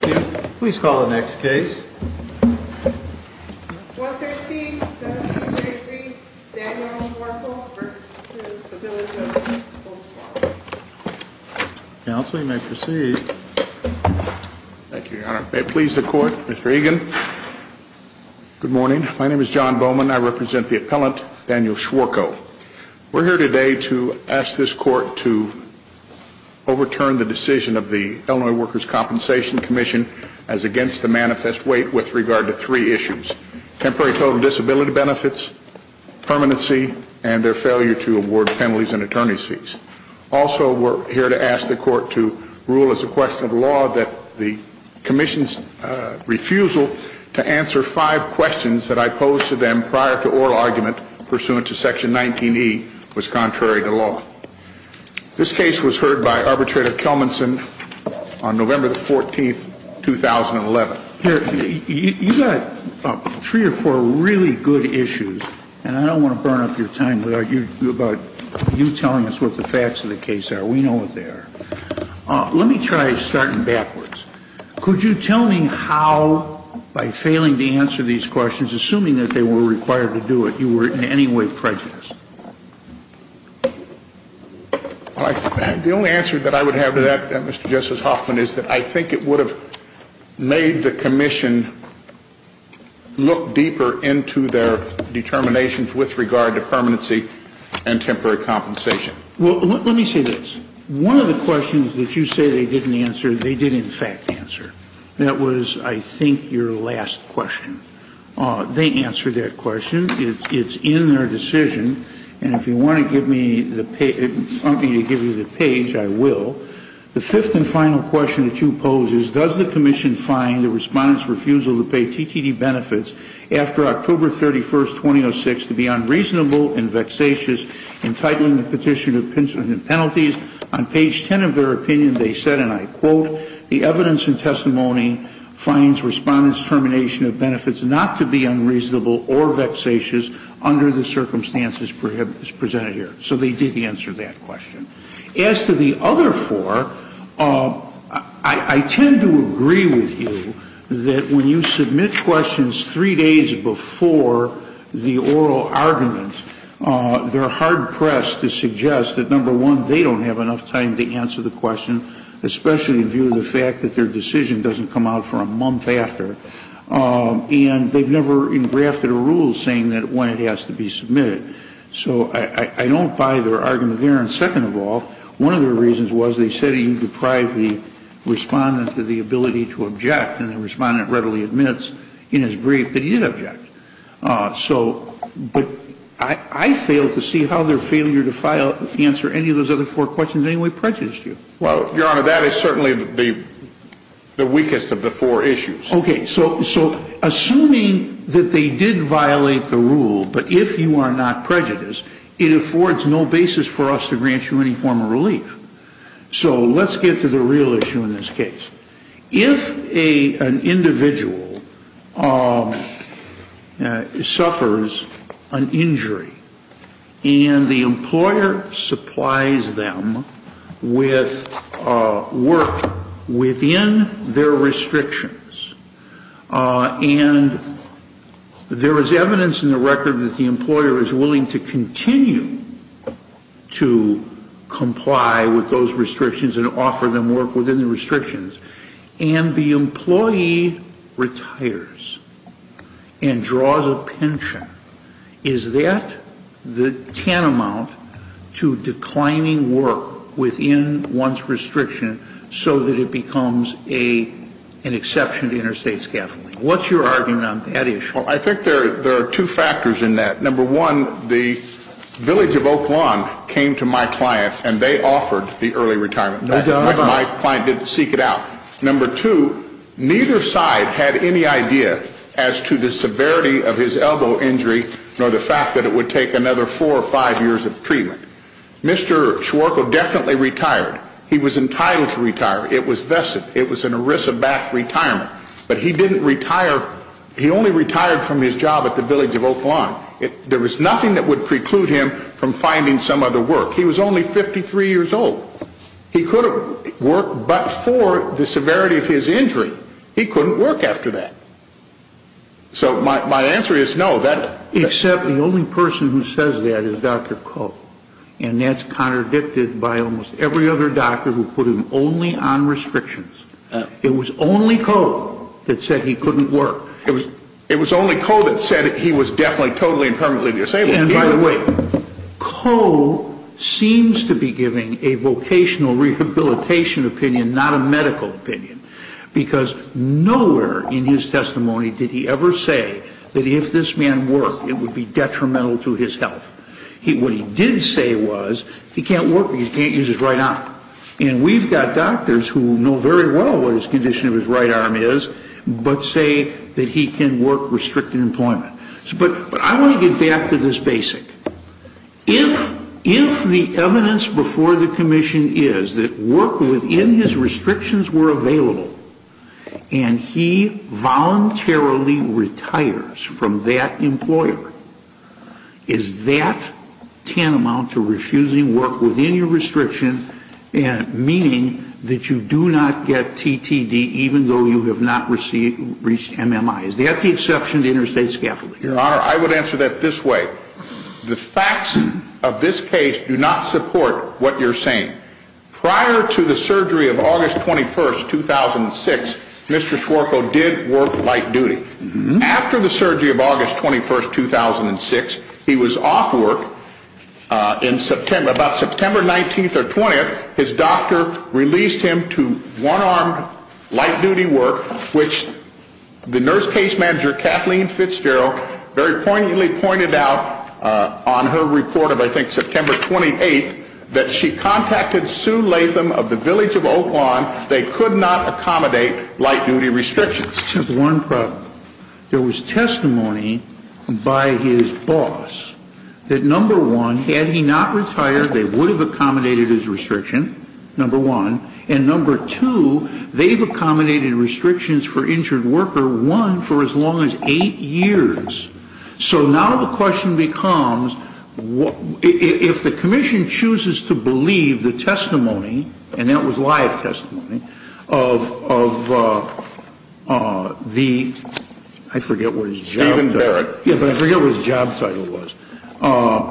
Please call the next case. 113-1733, Daniel Schwarko, for the bill of judgment. Counsel, you may proceed. Thank you, Your Honor. May it please the Court, Mr. Egan? Good morning. My name is John Bowman. I represent the appellant, Daniel Schwarko. We're here today to ask this Court to overturn the decision of the Illinois Workers' Compensation Commission as against the manifest weight with regard to three issues. Temporary total disability benefits, permanency, and their failure to award penalties and attorney's fees. Also, we're here to ask the Court to rule as a question of law that the Commission's refusal to answer five questions that I posed to them prior to oral argument pursuant to Section 19E was contrary to law. This case was heard by Arbitrator Kelmanson on November the 14th, 2011. Here, you've got three or four really good issues, and I don't want to burn up your time without you telling us what the facts of the case are. We know what they are. Let me try starting backwards. Could you tell me how, by failing to answer these questions, assuming that they were required to do it, you were in any way prejudiced? The only answer that I would have to that, Mr. Justice Hoffman, is that I think it would have made the Commission look deeper into their determinations with regard to permanency and temporary compensation. Let me say this. One of the questions that you say they didn't answer, they did, in fact, answer. That was, I think, your last question. They answered that question. It's in their decision, and if you want me to give you the page, I will. The fifth and final question that you pose is, does the Commission find the Respondent's refusal to pay TTD benefits after October 31st, 2006, to be unreasonable and vexatious, entitling the petitioner to penalties? On page 10 of their opinion, they said, and I quote, the evidence and testimony finds Respondent's termination of benefits not to be unreasonable or vexatious under the circumstances presented here. So they did answer that question. As to the other four, I tend to agree with you that when you submit questions three days before the oral argument, they're hard-pressed to suggest that, number one, they don't have enough time to answer the question, especially in view of the fact that their decision doesn't come out for a month after. And they've never engrafted a rule saying that when it has to be submitted. So I don't buy their argument there. And second of all, one of their reasons was they said you deprive the Respondent of the ability to object, and the Respondent readily admits in his brief that he did object. So, but I fail to see how their failure to answer any of those other four questions in any way prejudiced you. Well, Your Honor, that is certainly the weakest of the four issues. Okay. So assuming that they did violate the rule, but if you are not prejudiced, it affords no basis for us to grant you any form of relief. So let's get to the real issue in this case. If an individual suffers an injury and the employer supplies them with work within their restrictions, and there is evidence in the record that the employer is willing to continue to comply with those restrictions and offer them work within the restrictions, and the employee retires and draws a pension, is that the tantamount to declining work within one's restriction so that it becomes an exception to interstate scaffolding? What's your argument on that issue? Well, I think there are two factors in that. Number one, the Village of Oak Lawn came to my client, and they offered the early retirement. My client didn't seek it out. Number two, neither side had any idea as to the severity of his elbow injury nor the fact that it would take another four or five years of treatment. Mr. Schwarko definitely retired. He was entitled to retire. It was vested. It was an ERISA-backed retirement. But he didn't retire. He only retired from his job at the Village of Oak Lawn. There was nothing that would preclude him from finding some other work. He was only 53 years old. He could have worked but for the severity of his injury. He couldn't work after that. So my answer is no. Except the only person who says that is Dr. Koh, and that's contradicted by almost every other doctor who put him only on restrictions. It was only Koh that said he couldn't work. It was only Koh that said he was definitely totally and permanently disabled. And by the way, Koh seems to be giving a vocational rehabilitation opinion, not a medical opinion, because nowhere in his testimony did he ever say that if this man worked it would be detrimental to his health. What he did say was he can't work because he can't use his right arm. And we've got doctors who know very well what his condition of his right arm is, but say that he can work restricted employment. But I want to get back to this basic. If the evidence before the commission is that work within his restrictions were available and he voluntarily retires from that employer, is that tantamount to refusing work within your restrictions, meaning that you do not get TTD even though you have not reached MMI? Is that the exception to interstate scaffolding? Your Honor, I would answer that this way. The facts of this case do not support what you're saying. Prior to the surgery of August 21, 2006, Mr. Swarko did work light duty. After the surgery of August 21, 2006, he was off work in September. About September 19th or 20th, his doctor released him to one-armed light-duty work, which the nurse case manager, Kathleen Fitzgerald, very poignantly pointed out on her report of, I think, September 28th, that she contacted Sue Latham of the Village of Oak Lawn. They could not accommodate light-duty restrictions. One problem. There was testimony by his boss that, number one, had he not retired, they would have accommodated his restriction, number one, and number two, they've accommodated restrictions for injured worker, one, for as long as eight years. So now the question becomes, if the commission chooses to believe the testimony, and that was live testimony, of the, I forget what his job title was. Stephen Barrett. Yes, but I forget what his job title was.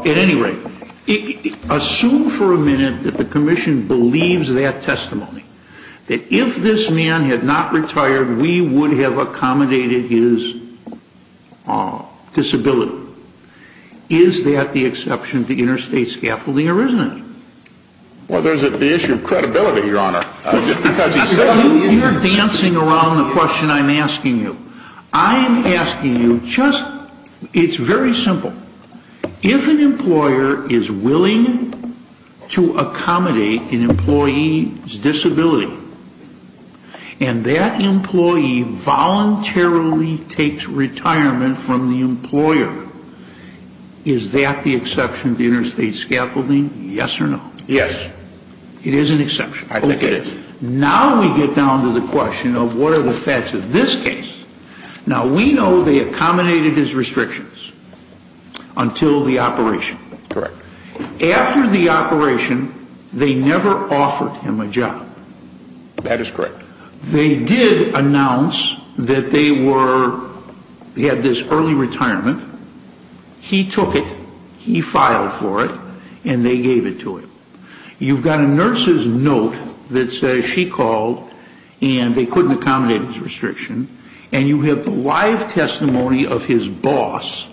At any rate, assume for a minute that the commission believes that testimony, that if this man had not retired, we would have accommodated his disability. Is that the exception to interstate scaffolding or isn't it? Well, there's the issue of credibility, Your Honor. You're dancing around the question I'm asking you. I'm asking you just, it's very simple. If an employer is willing to accommodate an employee's disability, is that the exception to interstate scaffolding, yes or no? Yes. It is an exception. I think it is. Okay. Now we get down to the question of what are the facts of this case. Now, we know they accommodated his restrictions until the operation. Correct. After the operation, they never offered him a job. That is correct. They did announce that they had this early retirement. He took it. He filed for it, and they gave it to him. You've got a nurse's note that says she called and they couldn't accommodate his restriction, and you have the live testimony of his boss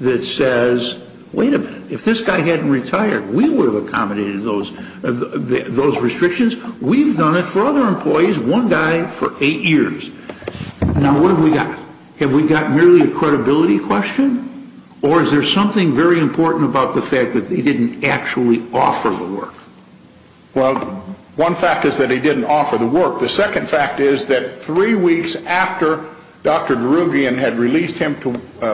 that says, wait a minute, if this guy hadn't retired, we would have accommodated those restrictions. We've done it for other employees, one guy for eight years. Now, what have we got? Have we got merely a credibility question, or is there something very important about the fact that they didn't actually offer the work? Well, one fact is that they didn't offer the work. The second fact is that three weeks after Dr. Darugian had released him to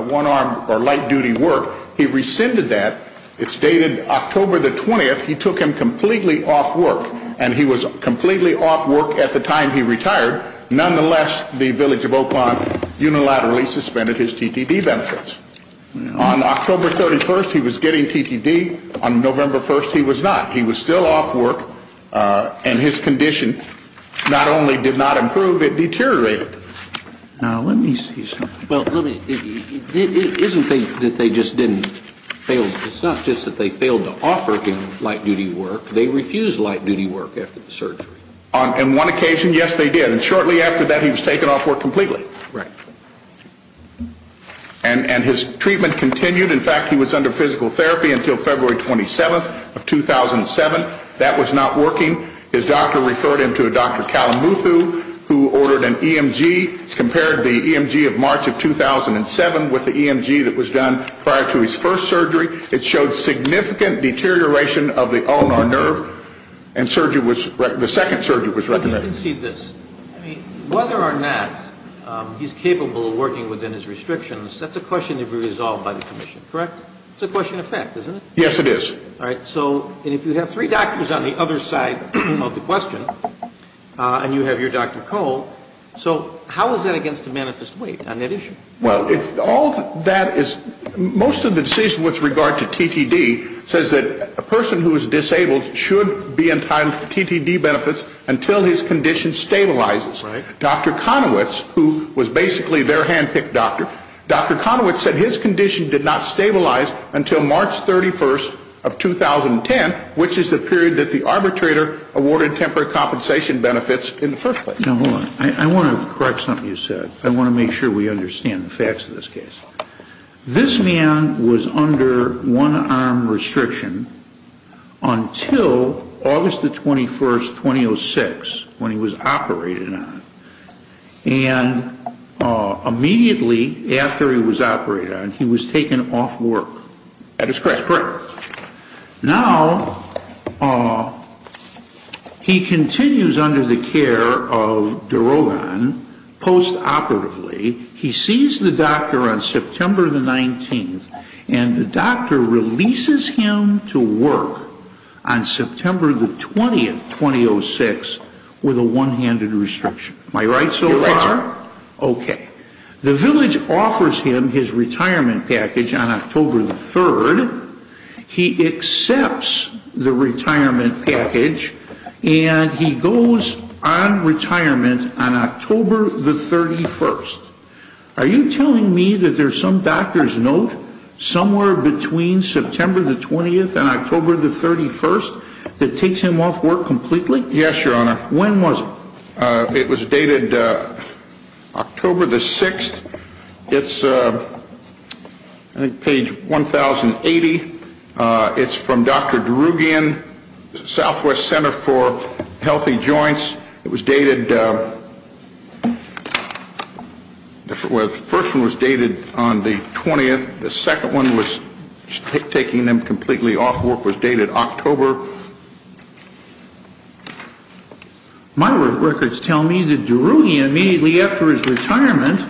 one-arm or light-duty work, he rescinded that. It's dated October the 20th. He took him completely off work, and he was completely off work at the time he retired. Nonetheless, the village of Oakmont unilaterally suspended his TTD benefits. On October 31st, he was getting TTD. On November 1st, he was not. He was still off work, and his condition not only did not improve, it deteriorated. Now, let me see something. Well, isn't it that they just didn't fail? It's not just that they failed to offer him light-duty work. They refused light-duty work after the surgery. On one occasion, yes, they did, and shortly after that, he was taken off work completely. Right. And his treatment continued. In fact, he was under physical therapy until February 27th of 2007. That was not working. His doctor referred him to a Dr. Kalamuthu, who ordered an EMG, compared the EMG of March of 2007 with the EMG that was done prior to his first surgery. It showed significant deterioration of the ulnar nerve, and the second surgery was recommended. Let me concede this. Whether or not he's capable of working within his restrictions, that's a question to be resolved by the commission, correct? It's a question of fact, isn't it? Yes, it is. All right. So if you have three doctors on the other side of the question, and you have your Dr. Cole, so how is that against the manifest weight on that issue? Well, it's all that is most of the decision with regard to TTD says that a person who is disabled should be entitled to TTD benefits until his condition stabilizes. Dr. Conowitz, who was basically their hand-picked doctor, Dr. Conowitz said his condition did not stabilize until March 31st of 2010, which is the period that the arbitrator awarded temporary compensation benefits in the first place. Now, hold on. I want to correct something you said. I want to make sure we understand the facts of this case. This man was under one-arm restriction until August the 21st, 2006, when he was operated on. And immediately after he was operated on, he was taken off work. That is correct. Correct. Now, he continues under the care of Darogan post-operatively. He sees the doctor on September the 19th, and the doctor releases him to work on September the 20th, 2006, with a one-handed restriction. Am I right so far? You're right, sir. Okay. The village offers him his retirement package on October the 3rd. He accepts the retirement package, and he goes on retirement on October the 31st. Are you telling me that there's some doctor's note somewhere between September the 20th and October the 31st that takes him off work completely? Yes, Your Honor. When was it? It was dated October the 6th. It's, I think, page 1080. It's from Dr. Darogan, Southwest Center for Healthy Joints. It was dated, the first one was dated on the 20th. The second one was taking him completely off work, was dated October. My records tell me that Darogan, immediately after his retirement,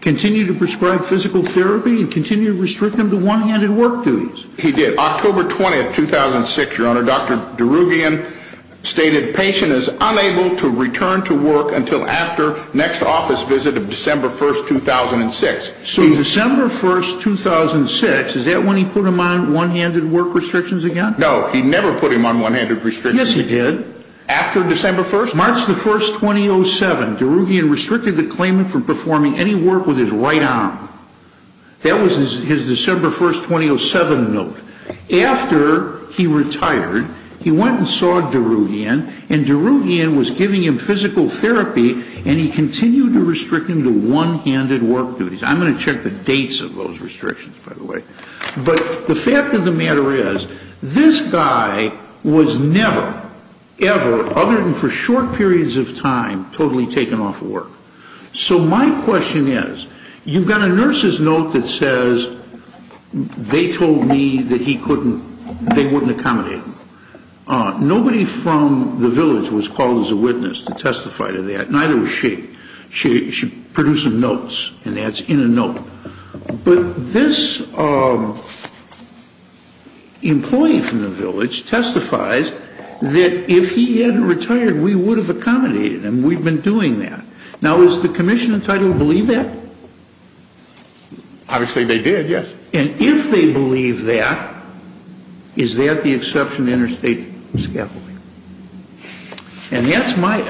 continued to prescribe physical therapy and continued to restrict him to one-handed work duties. He did. On October 20th, 2006, Your Honor, Dr. Darogan stated patient is unable to return to work until after next office visit of December 1st, 2006. So December 1st, 2006, is that when he put him on one-handed work restrictions again? No, he never put him on one-handed restrictions. Yes, he did. After December 1st? March the 1st, 2007, Darogan restricted the claimant from performing any work with his right arm. That was his December 1st, 2007 note. After he retired, he went and saw Darogan, and Darogan was giving him physical therapy, and he continued to restrict him to one-handed work duties. I'm going to check the dates of those restrictions, by the way. But the fact of the matter is, this guy was never, ever, other than for short periods of time, totally taken off work. So my question is, you've got a nurse's note that says, they told me that he couldn't, they wouldn't accommodate him. Nobody from the village was called as a witness to testify to that, neither was she. She produced some notes, and that's in a note. But this employee from the village testifies that if he hadn't retired, we would have accommodated him. And we've been doing that. Now, is the commission entitled to believe that? Obviously, they did, yes. And if they believe that, is that the exception to interstate scaffolding? And that's my,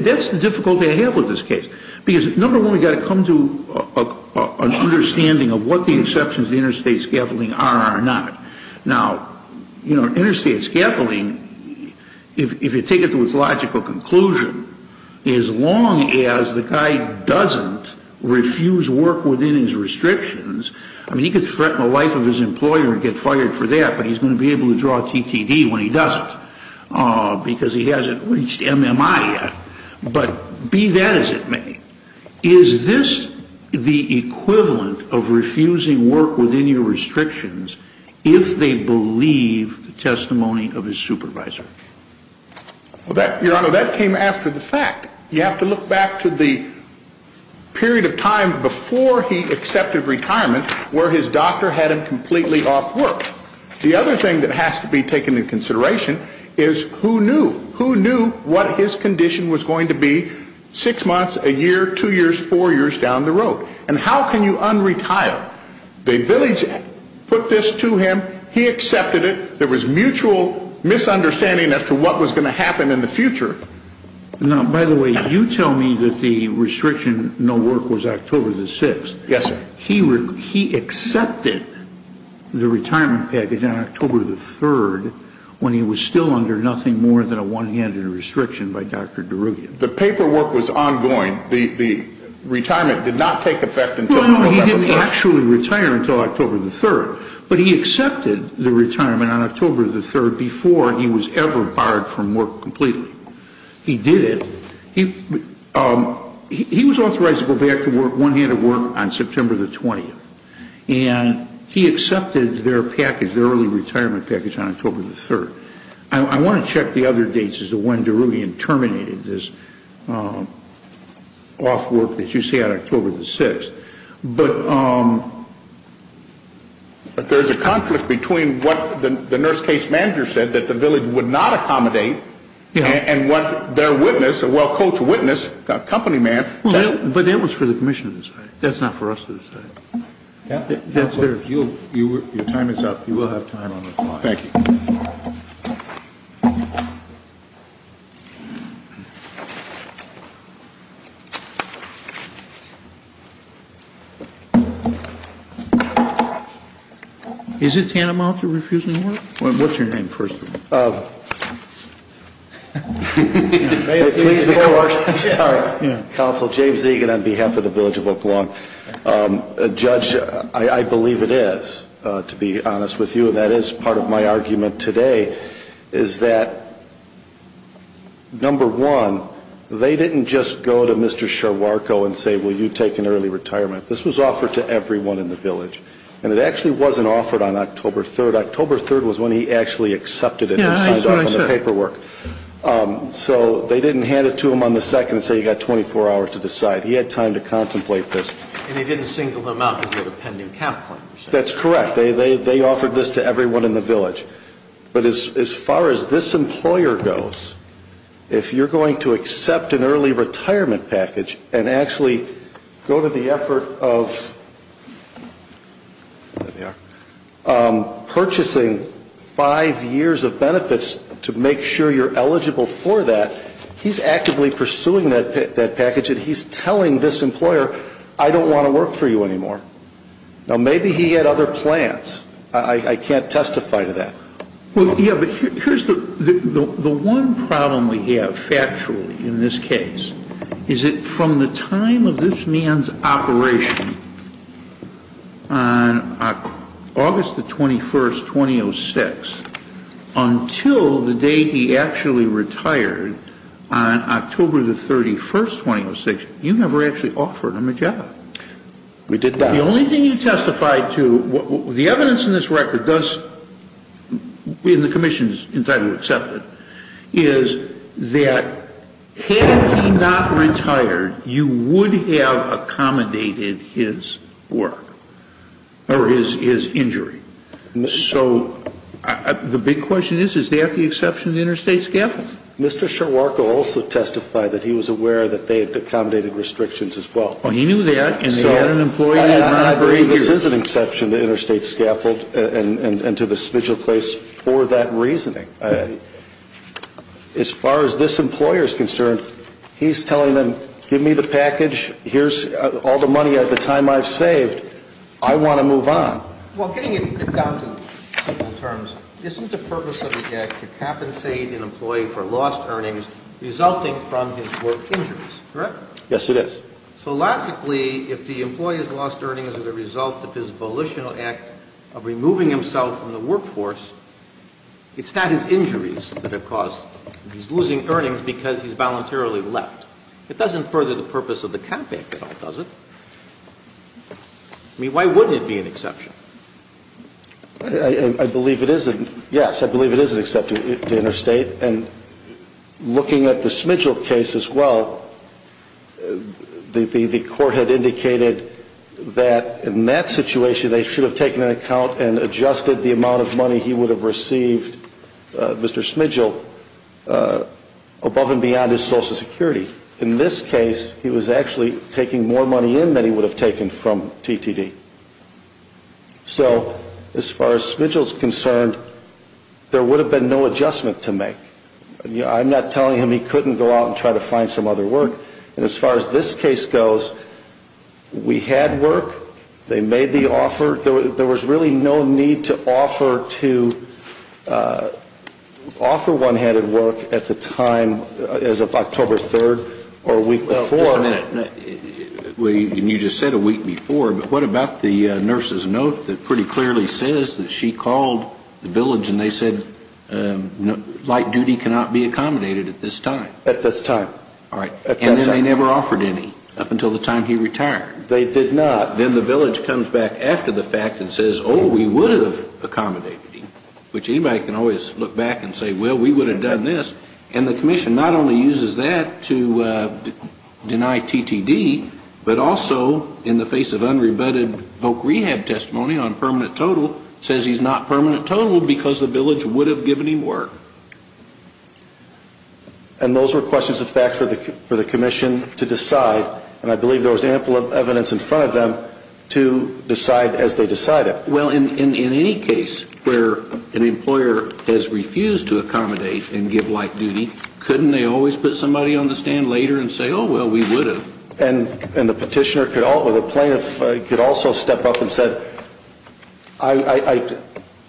that's the difficulty I have with this case. Because, number one, we've got to come to an understanding of what the exceptions to interstate scaffolding are or not. Now, you know, interstate scaffolding, if you take it to its logical conclusion, as long as the guy doesn't refuse work within his restrictions, I mean, he could threaten the life of his employer and get fired for that, but he's going to be able to draw a TTD when he doesn't, because he hasn't reached MMI yet. But be that as it may, is this the equivalent of refusing work within your restrictions if they believe the testimony of his supervisor? Well, Your Honor, that came after the fact. You have to look back to the period of time before he accepted retirement where his doctor had him completely off work. The other thing that has to be taken into consideration is who knew? Who knew what his condition was going to be six months, a year, two years, four years down the road? And how can you unretire? The village put this to him. He accepted it. There was mutual misunderstanding as to what was going to happen in the future. Now, by the way, you tell me that the restriction, no work, was October the 6th. Yes, sir. He accepted the retirement package on October the 3rd when he was still under nothing more than a one-handed restriction by Dr. Derugian. The paperwork was ongoing. The retirement did not take effect until October the 3rd. Well, no, he didn't actually retire until October the 3rd, but he accepted the retirement on October the 3rd before he was ever fired from work completely. He did it. He was authorized to go back to work, one-handed work, on September the 20th. And he accepted their package, their early retirement package, on October the 3rd. I want to check the other dates as to when Derugian terminated this off work that you say on October the 6th. But there's a conflict between what the nurse case manager said that the village would not accommodate and what their witness, a well-coached witness, a company man said. But that was for the commission to decide. That's not for us to decide. Your time is up. You will have time on the floor. Thank you. Is it tantamount to refusing work? What's your name, first of all? May it please the Court. Sorry. Counsel James Egan on behalf of the Village of Oak Lawn. Judge, I believe it is, to be honest with you, and that is part of my argument today, is that, number one, they didn't just go to Mr. This was offered to everyone in the village. And it actually wasn't offered on October 3rd. October 3rd was when he actually accepted it and signed off on the paperwork. So they didn't hand it to him on the 2nd and say, you've got 24 hours to decide. He had time to contemplate this. And they didn't single him out because of a pending cap claim. That's correct. They offered this to everyone in the village. But as far as this employer goes, if you're going to accept an early retirement package and actually go to the effort of purchasing five years of benefits to make sure you're eligible for that, he's actively pursuing that package, and he's telling this employer, I don't want to work for you anymore. Now, maybe he had other plans. I can't testify to that. Well, yeah, but here's the one problem we have, factually, in this case, is that from the time of this man's operation on August the 21st, 2006, until the day he actually retired on October the 31st, 2006, you never actually offered him a job. We did not. The only thing you testified to, the evidence in this record does, in the commission's entitlement to accept it, is that had he not retired, you would have accommodated his work or his injury. So the big question is, is that the exception to the interstate scaffold? Mr. Ciararco also testified that he was aware that they had accommodated restrictions as well. Well, he knew that, and they had an employee. I believe this is an exception to interstate scaffold and to the spigel place for that reasoning. As far as this employer is concerned, he's telling them, give me the package, here's all the money of the time I've saved, I want to move on. Well, getting it down to simple terms, isn't the purpose of the act to compensate an employee for lost earnings resulting from his work injuries? Correct? Yes, it is. So logically, if the employee has lost earnings as a result of his volitional act of removing himself from the workforce, it's not his injuries that have caused, he's losing earnings because he's voluntarily left. It doesn't further the purpose of the campaign at all, does it? I mean, why would it be an exception? I believe it is an, yes, I believe it is an exception to interstate. And looking at the Smigel case as well, the court had indicated that in that situation they should have taken an account and adjusted the amount of money he would have received, Mr. Smigel, above and beyond his Social Security. In this case, he was actually taking more money in than he would have taken from TTD. So as far as Smigel is concerned, there would have been no adjustment to make. I'm not telling him he couldn't go out and try to find some other work. And as far as this case goes, we had work, they made the offer, there was really no need to offer to offer one-handed work at the time, as of October 3rd or a week before. Well, you just said a week before, but what about the nurse's note that pretty clearly says that she called the village and they said light duty cannot be accommodated at this time? At this time. All right. And they never offered any up until the time he retired. They did not. Then the village comes back after the fact and says, oh, we would have accommodated him, which anybody can always look back and say, well, we would have done this. And the commission not only uses that to deny TTD, but also in the face of unrebutted voc rehab testimony on permanent total, says he's not permanent total because the village would have given him work. And those were questions of fact for the commission to decide, and I believe there was ample evidence in front of them to decide as they decided. Well, in any case where an employer has refused to accommodate and give light duty, couldn't they always put somebody on the stand later and say, oh, well, we would have? And the petitioner could also, the plaintiff could also step up and say,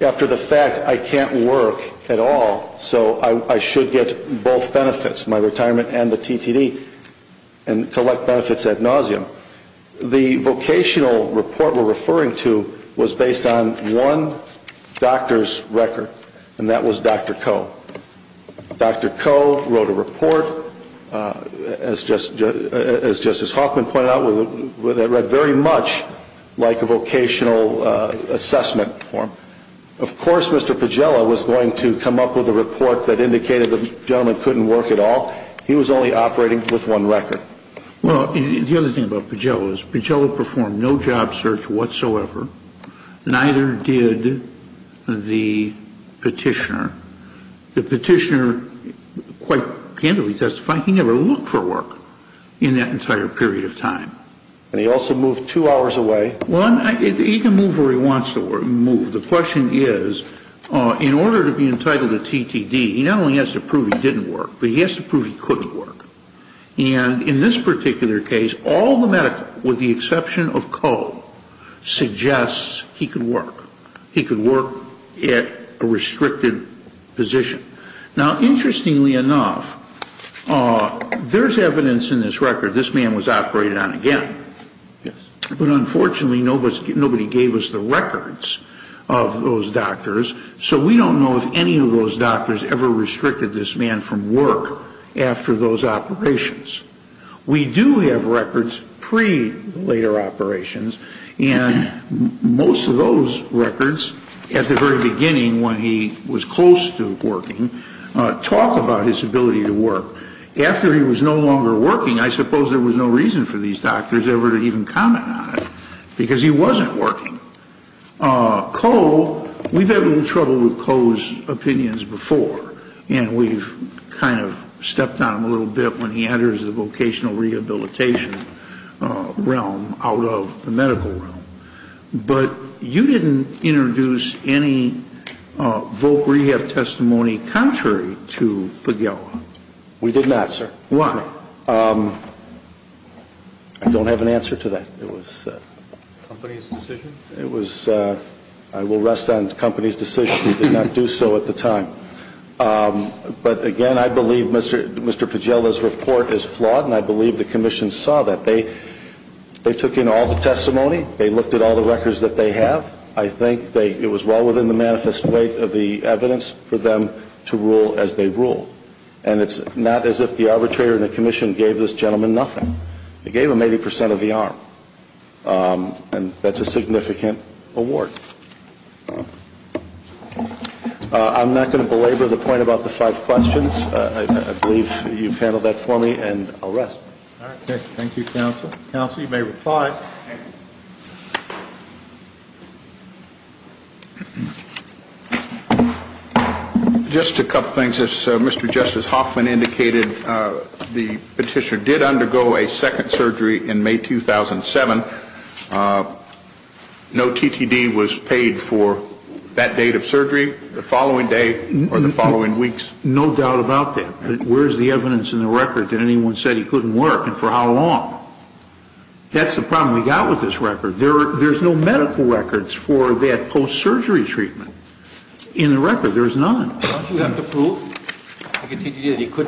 after the fact, I can't work at all, so I should get both benefits, my retirement and the TTD, and collect benefits ad nauseum. The vocational report we're referring to was based on one doctor's record, and that was Dr. Coe. Dr. Coe wrote a report, as Justice Hoffman pointed out, that read very much like a vocational assessment form. Of course, Mr. Pagella was going to come up with a report that indicated the gentleman couldn't work at all. He was only operating with one record. Well, the other thing about Pagella is Pagella performed no job search whatsoever, neither did the petitioner. The petitioner quite candidly testified he never looked for work in that entire period of time. And he also moved two hours away. Well, he can move where he wants to move. The question is, in order to be entitled to TTD, he not only has to prove he didn't work, but he has to prove he couldn't work. And in this particular case, all the medical, with the exception of Coe, suggests he could work. He could work at a restricted position. Now, interestingly enough, there's evidence in this record this man was operating on again. But unfortunately, nobody gave us the records of those doctors, so we don't know if any of those doctors ever restricted this man from work after those operations. We do have records pre-later operations. And most of those records, at the very beginning when he was close to working, talk about his ability to work. After he was no longer working, I suppose there was no reason for these doctors ever to even comment on it, because he wasn't working. Coe, we've had a little trouble with Coe's opinions before, and we've kind of stepped on him a little bit when he enters the vocational rehabilitation realm out of the medical realm. But you didn't introduce any voc rehab testimony contrary to Pagela. We did not, sir. Why? I don't have an answer to that. I will rest on the company's decision. We did not do so at the time. But again, I believe Mr. Pagela's report is flawed, and I believe the commission saw that. They took in all the testimony. They looked at all the records that they have. I think it was well within the manifest weight of the evidence for them to rule as they ruled. And it's not as if the arbitrator and the commission gave this gentleman nothing. They gave him 80 percent of the arm. And that's a significant award. I'm not going to belabor the point about the five questions. I believe you've handled that for me, and I'll rest. All right. Thank you, counsel. Counsel, you may reply. Just a couple things. As Mr. Justice Hoffman indicated, the petitioner did undergo a second surgery in May 2007. No TTD was paid for that date of surgery, the following day or the following weeks. No doubt about that. But where is the evidence in the record that anyone said he couldn't work and for how long? That's the problem. There's no medical records for that post-surgery treatment in the record. There's none. Don't you have to prove?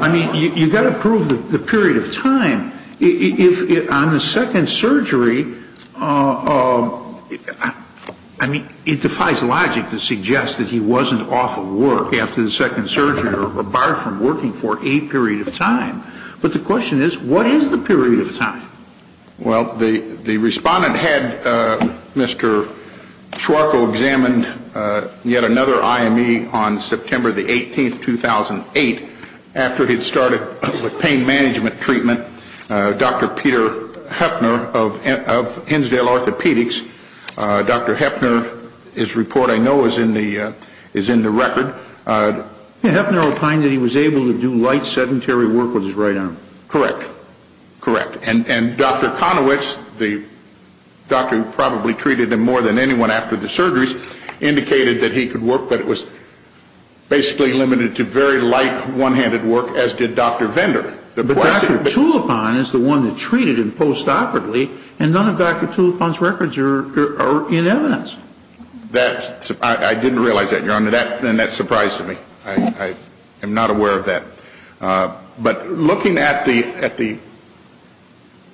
I mean, you've got to prove the period of time. On the second surgery, I mean, it defies logic to suggest that he wasn't off of work after the second surgery or apart from working for a period of time. But the question is, what is the period of time? Well, the respondent had Mr. Schwarko examined yet another IME on September the 18th, 2008, after he'd started with pain management treatment, Dr. Peter Hefner of Hinsdale Orthopedics. Dr. Hefner, his report I know is in the record. Hefner opined that he was able to do light sedentary work with his right arm. Correct. Correct. And Dr. Konowitz, the doctor who probably treated him more than anyone after the surgeries, indicated that he could work, but it was basically limited to very light one-handed work, as did Dr. Vendor. But Dr. Tulipon is the one that treated him post-operatively, and none of Dr. Tulipon's records are in evidence. I didn't realize that, Your Honor, and that surprised me. I am not aware of that. But looking at the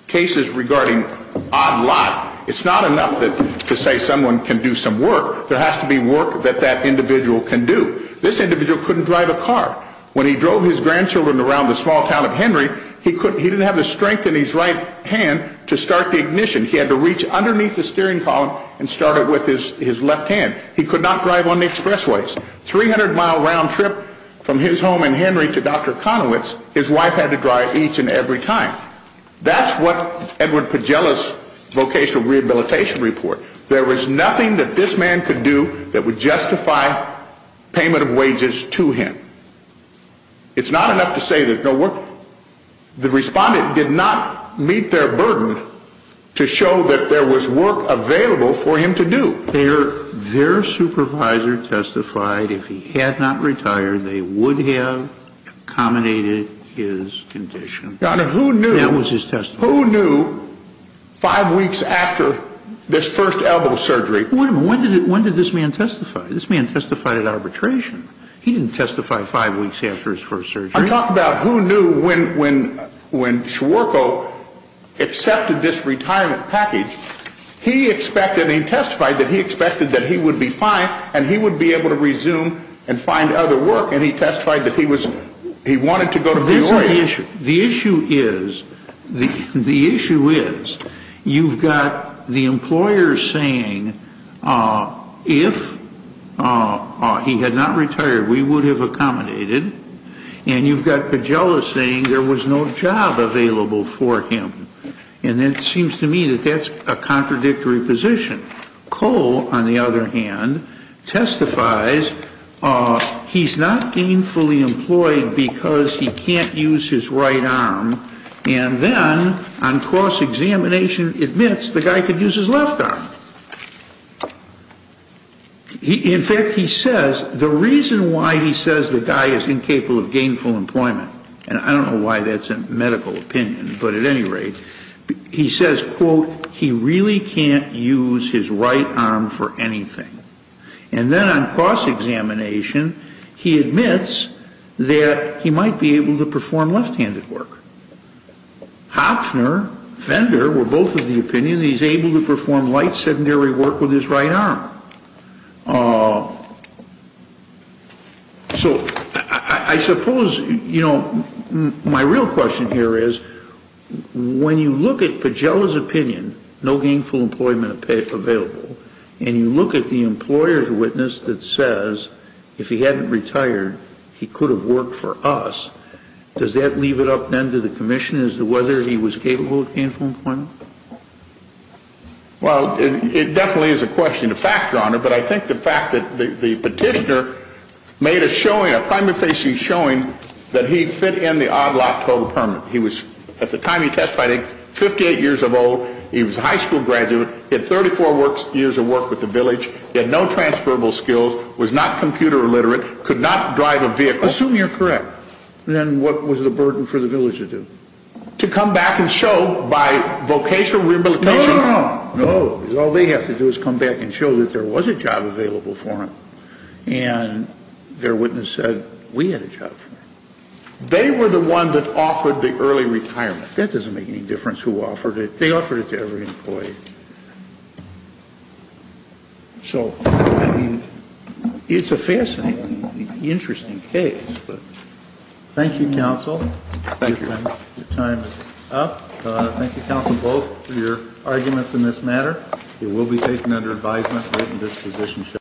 cases regarding odd lot, it's not enough to say someone can do some work. There has to be work that that individual can do. This individual couldn't drive a car. When he drove his grandchildren around the small town of Henry, he didn't have the strength in his right hand to start the ignition. He had to reach underneath the steering column and start it with his left hand. He could not drive on the expressways. 300-mile round trip from his home in Henry to Dr. Konowitz, his wife had to drive each and every time. That's what Edward Pagela's vocational rehabilitation report. There was nothing that this man could do that would justify payment of wages to him. It's not enough to say there's no work. The respondent did not meet their burden to show that there was work available for him to do. Their supervisor testified if he had not retired, they would have accommodated his condition. Your Honor, who knew? That was his testimony. Who knew five weeks after this first elbow surgery? Wait a minute. When did this man testify? This man testified at arbitration. He didn't testify five weeks after his first surgery. I'm talking about who knew when Schwerko accepted this retirement package, he testified that he expected that he would be fine and he would be able to resume and find other work, and he testified that he wanted to go to New York. The issue is you've got the employer saying if he had not retired, we would have accommodated, and you've got Pagela saying there was no job available for him, and it seems to me that that's a contradictory position. Cole, on the other hand, testifies he's not gainfully employed because he can't use his right arm, and then on cross-examination admits the guy could use his left arm. In fact, he says the reason why he says the guy is incapable of gainful employment, and I don't know why that's a medical opinion, but at any rate, he says, quote, he really can't use his right arm for anything. And then on cross-examination, he admits that he might be able to perform left-handed work. Hopfner, Fender were both of the opinion that he's able to perform right-handed work, and Fender said, no, he worked with his right arm. So I suppose, you know, my real question here is when you look at Pagela's opinion, no gainful employment available, and you look at the employer's witness that says if he hadn't retired, he could have worked for us, does that leave it up, then, to the commission as to whether he was capable of gainful employment? Well, it definitely is a question of fact, Your Honor, but I think the fact that the petitioner made a showing, a primary facing showing that he fit in the odd lot total permit. He was, at the time he testified, 58 years of old. He was a high school graduate. He had 34 years of work with the village. He had no transferable skills, was not computer illiterate, could not drive a vehicle. I assume you're correct. Then what was the burden for the village to do? To come back and show by vocational rehabilitation. No, no, no. No. All they have to do is come back and show that there was a job available for him, and their witness said, we had a job for him. They were the one that offered the early retirement. That doesn't make any difference who offered it. They offered it to every employee. So, I mean, it's a fascinating, interesting case. Thank you, counsel. Thank you. Your time is up. Thank you, counsel, both, for your arguments in this matter. It will be taken under advisement, written disposition.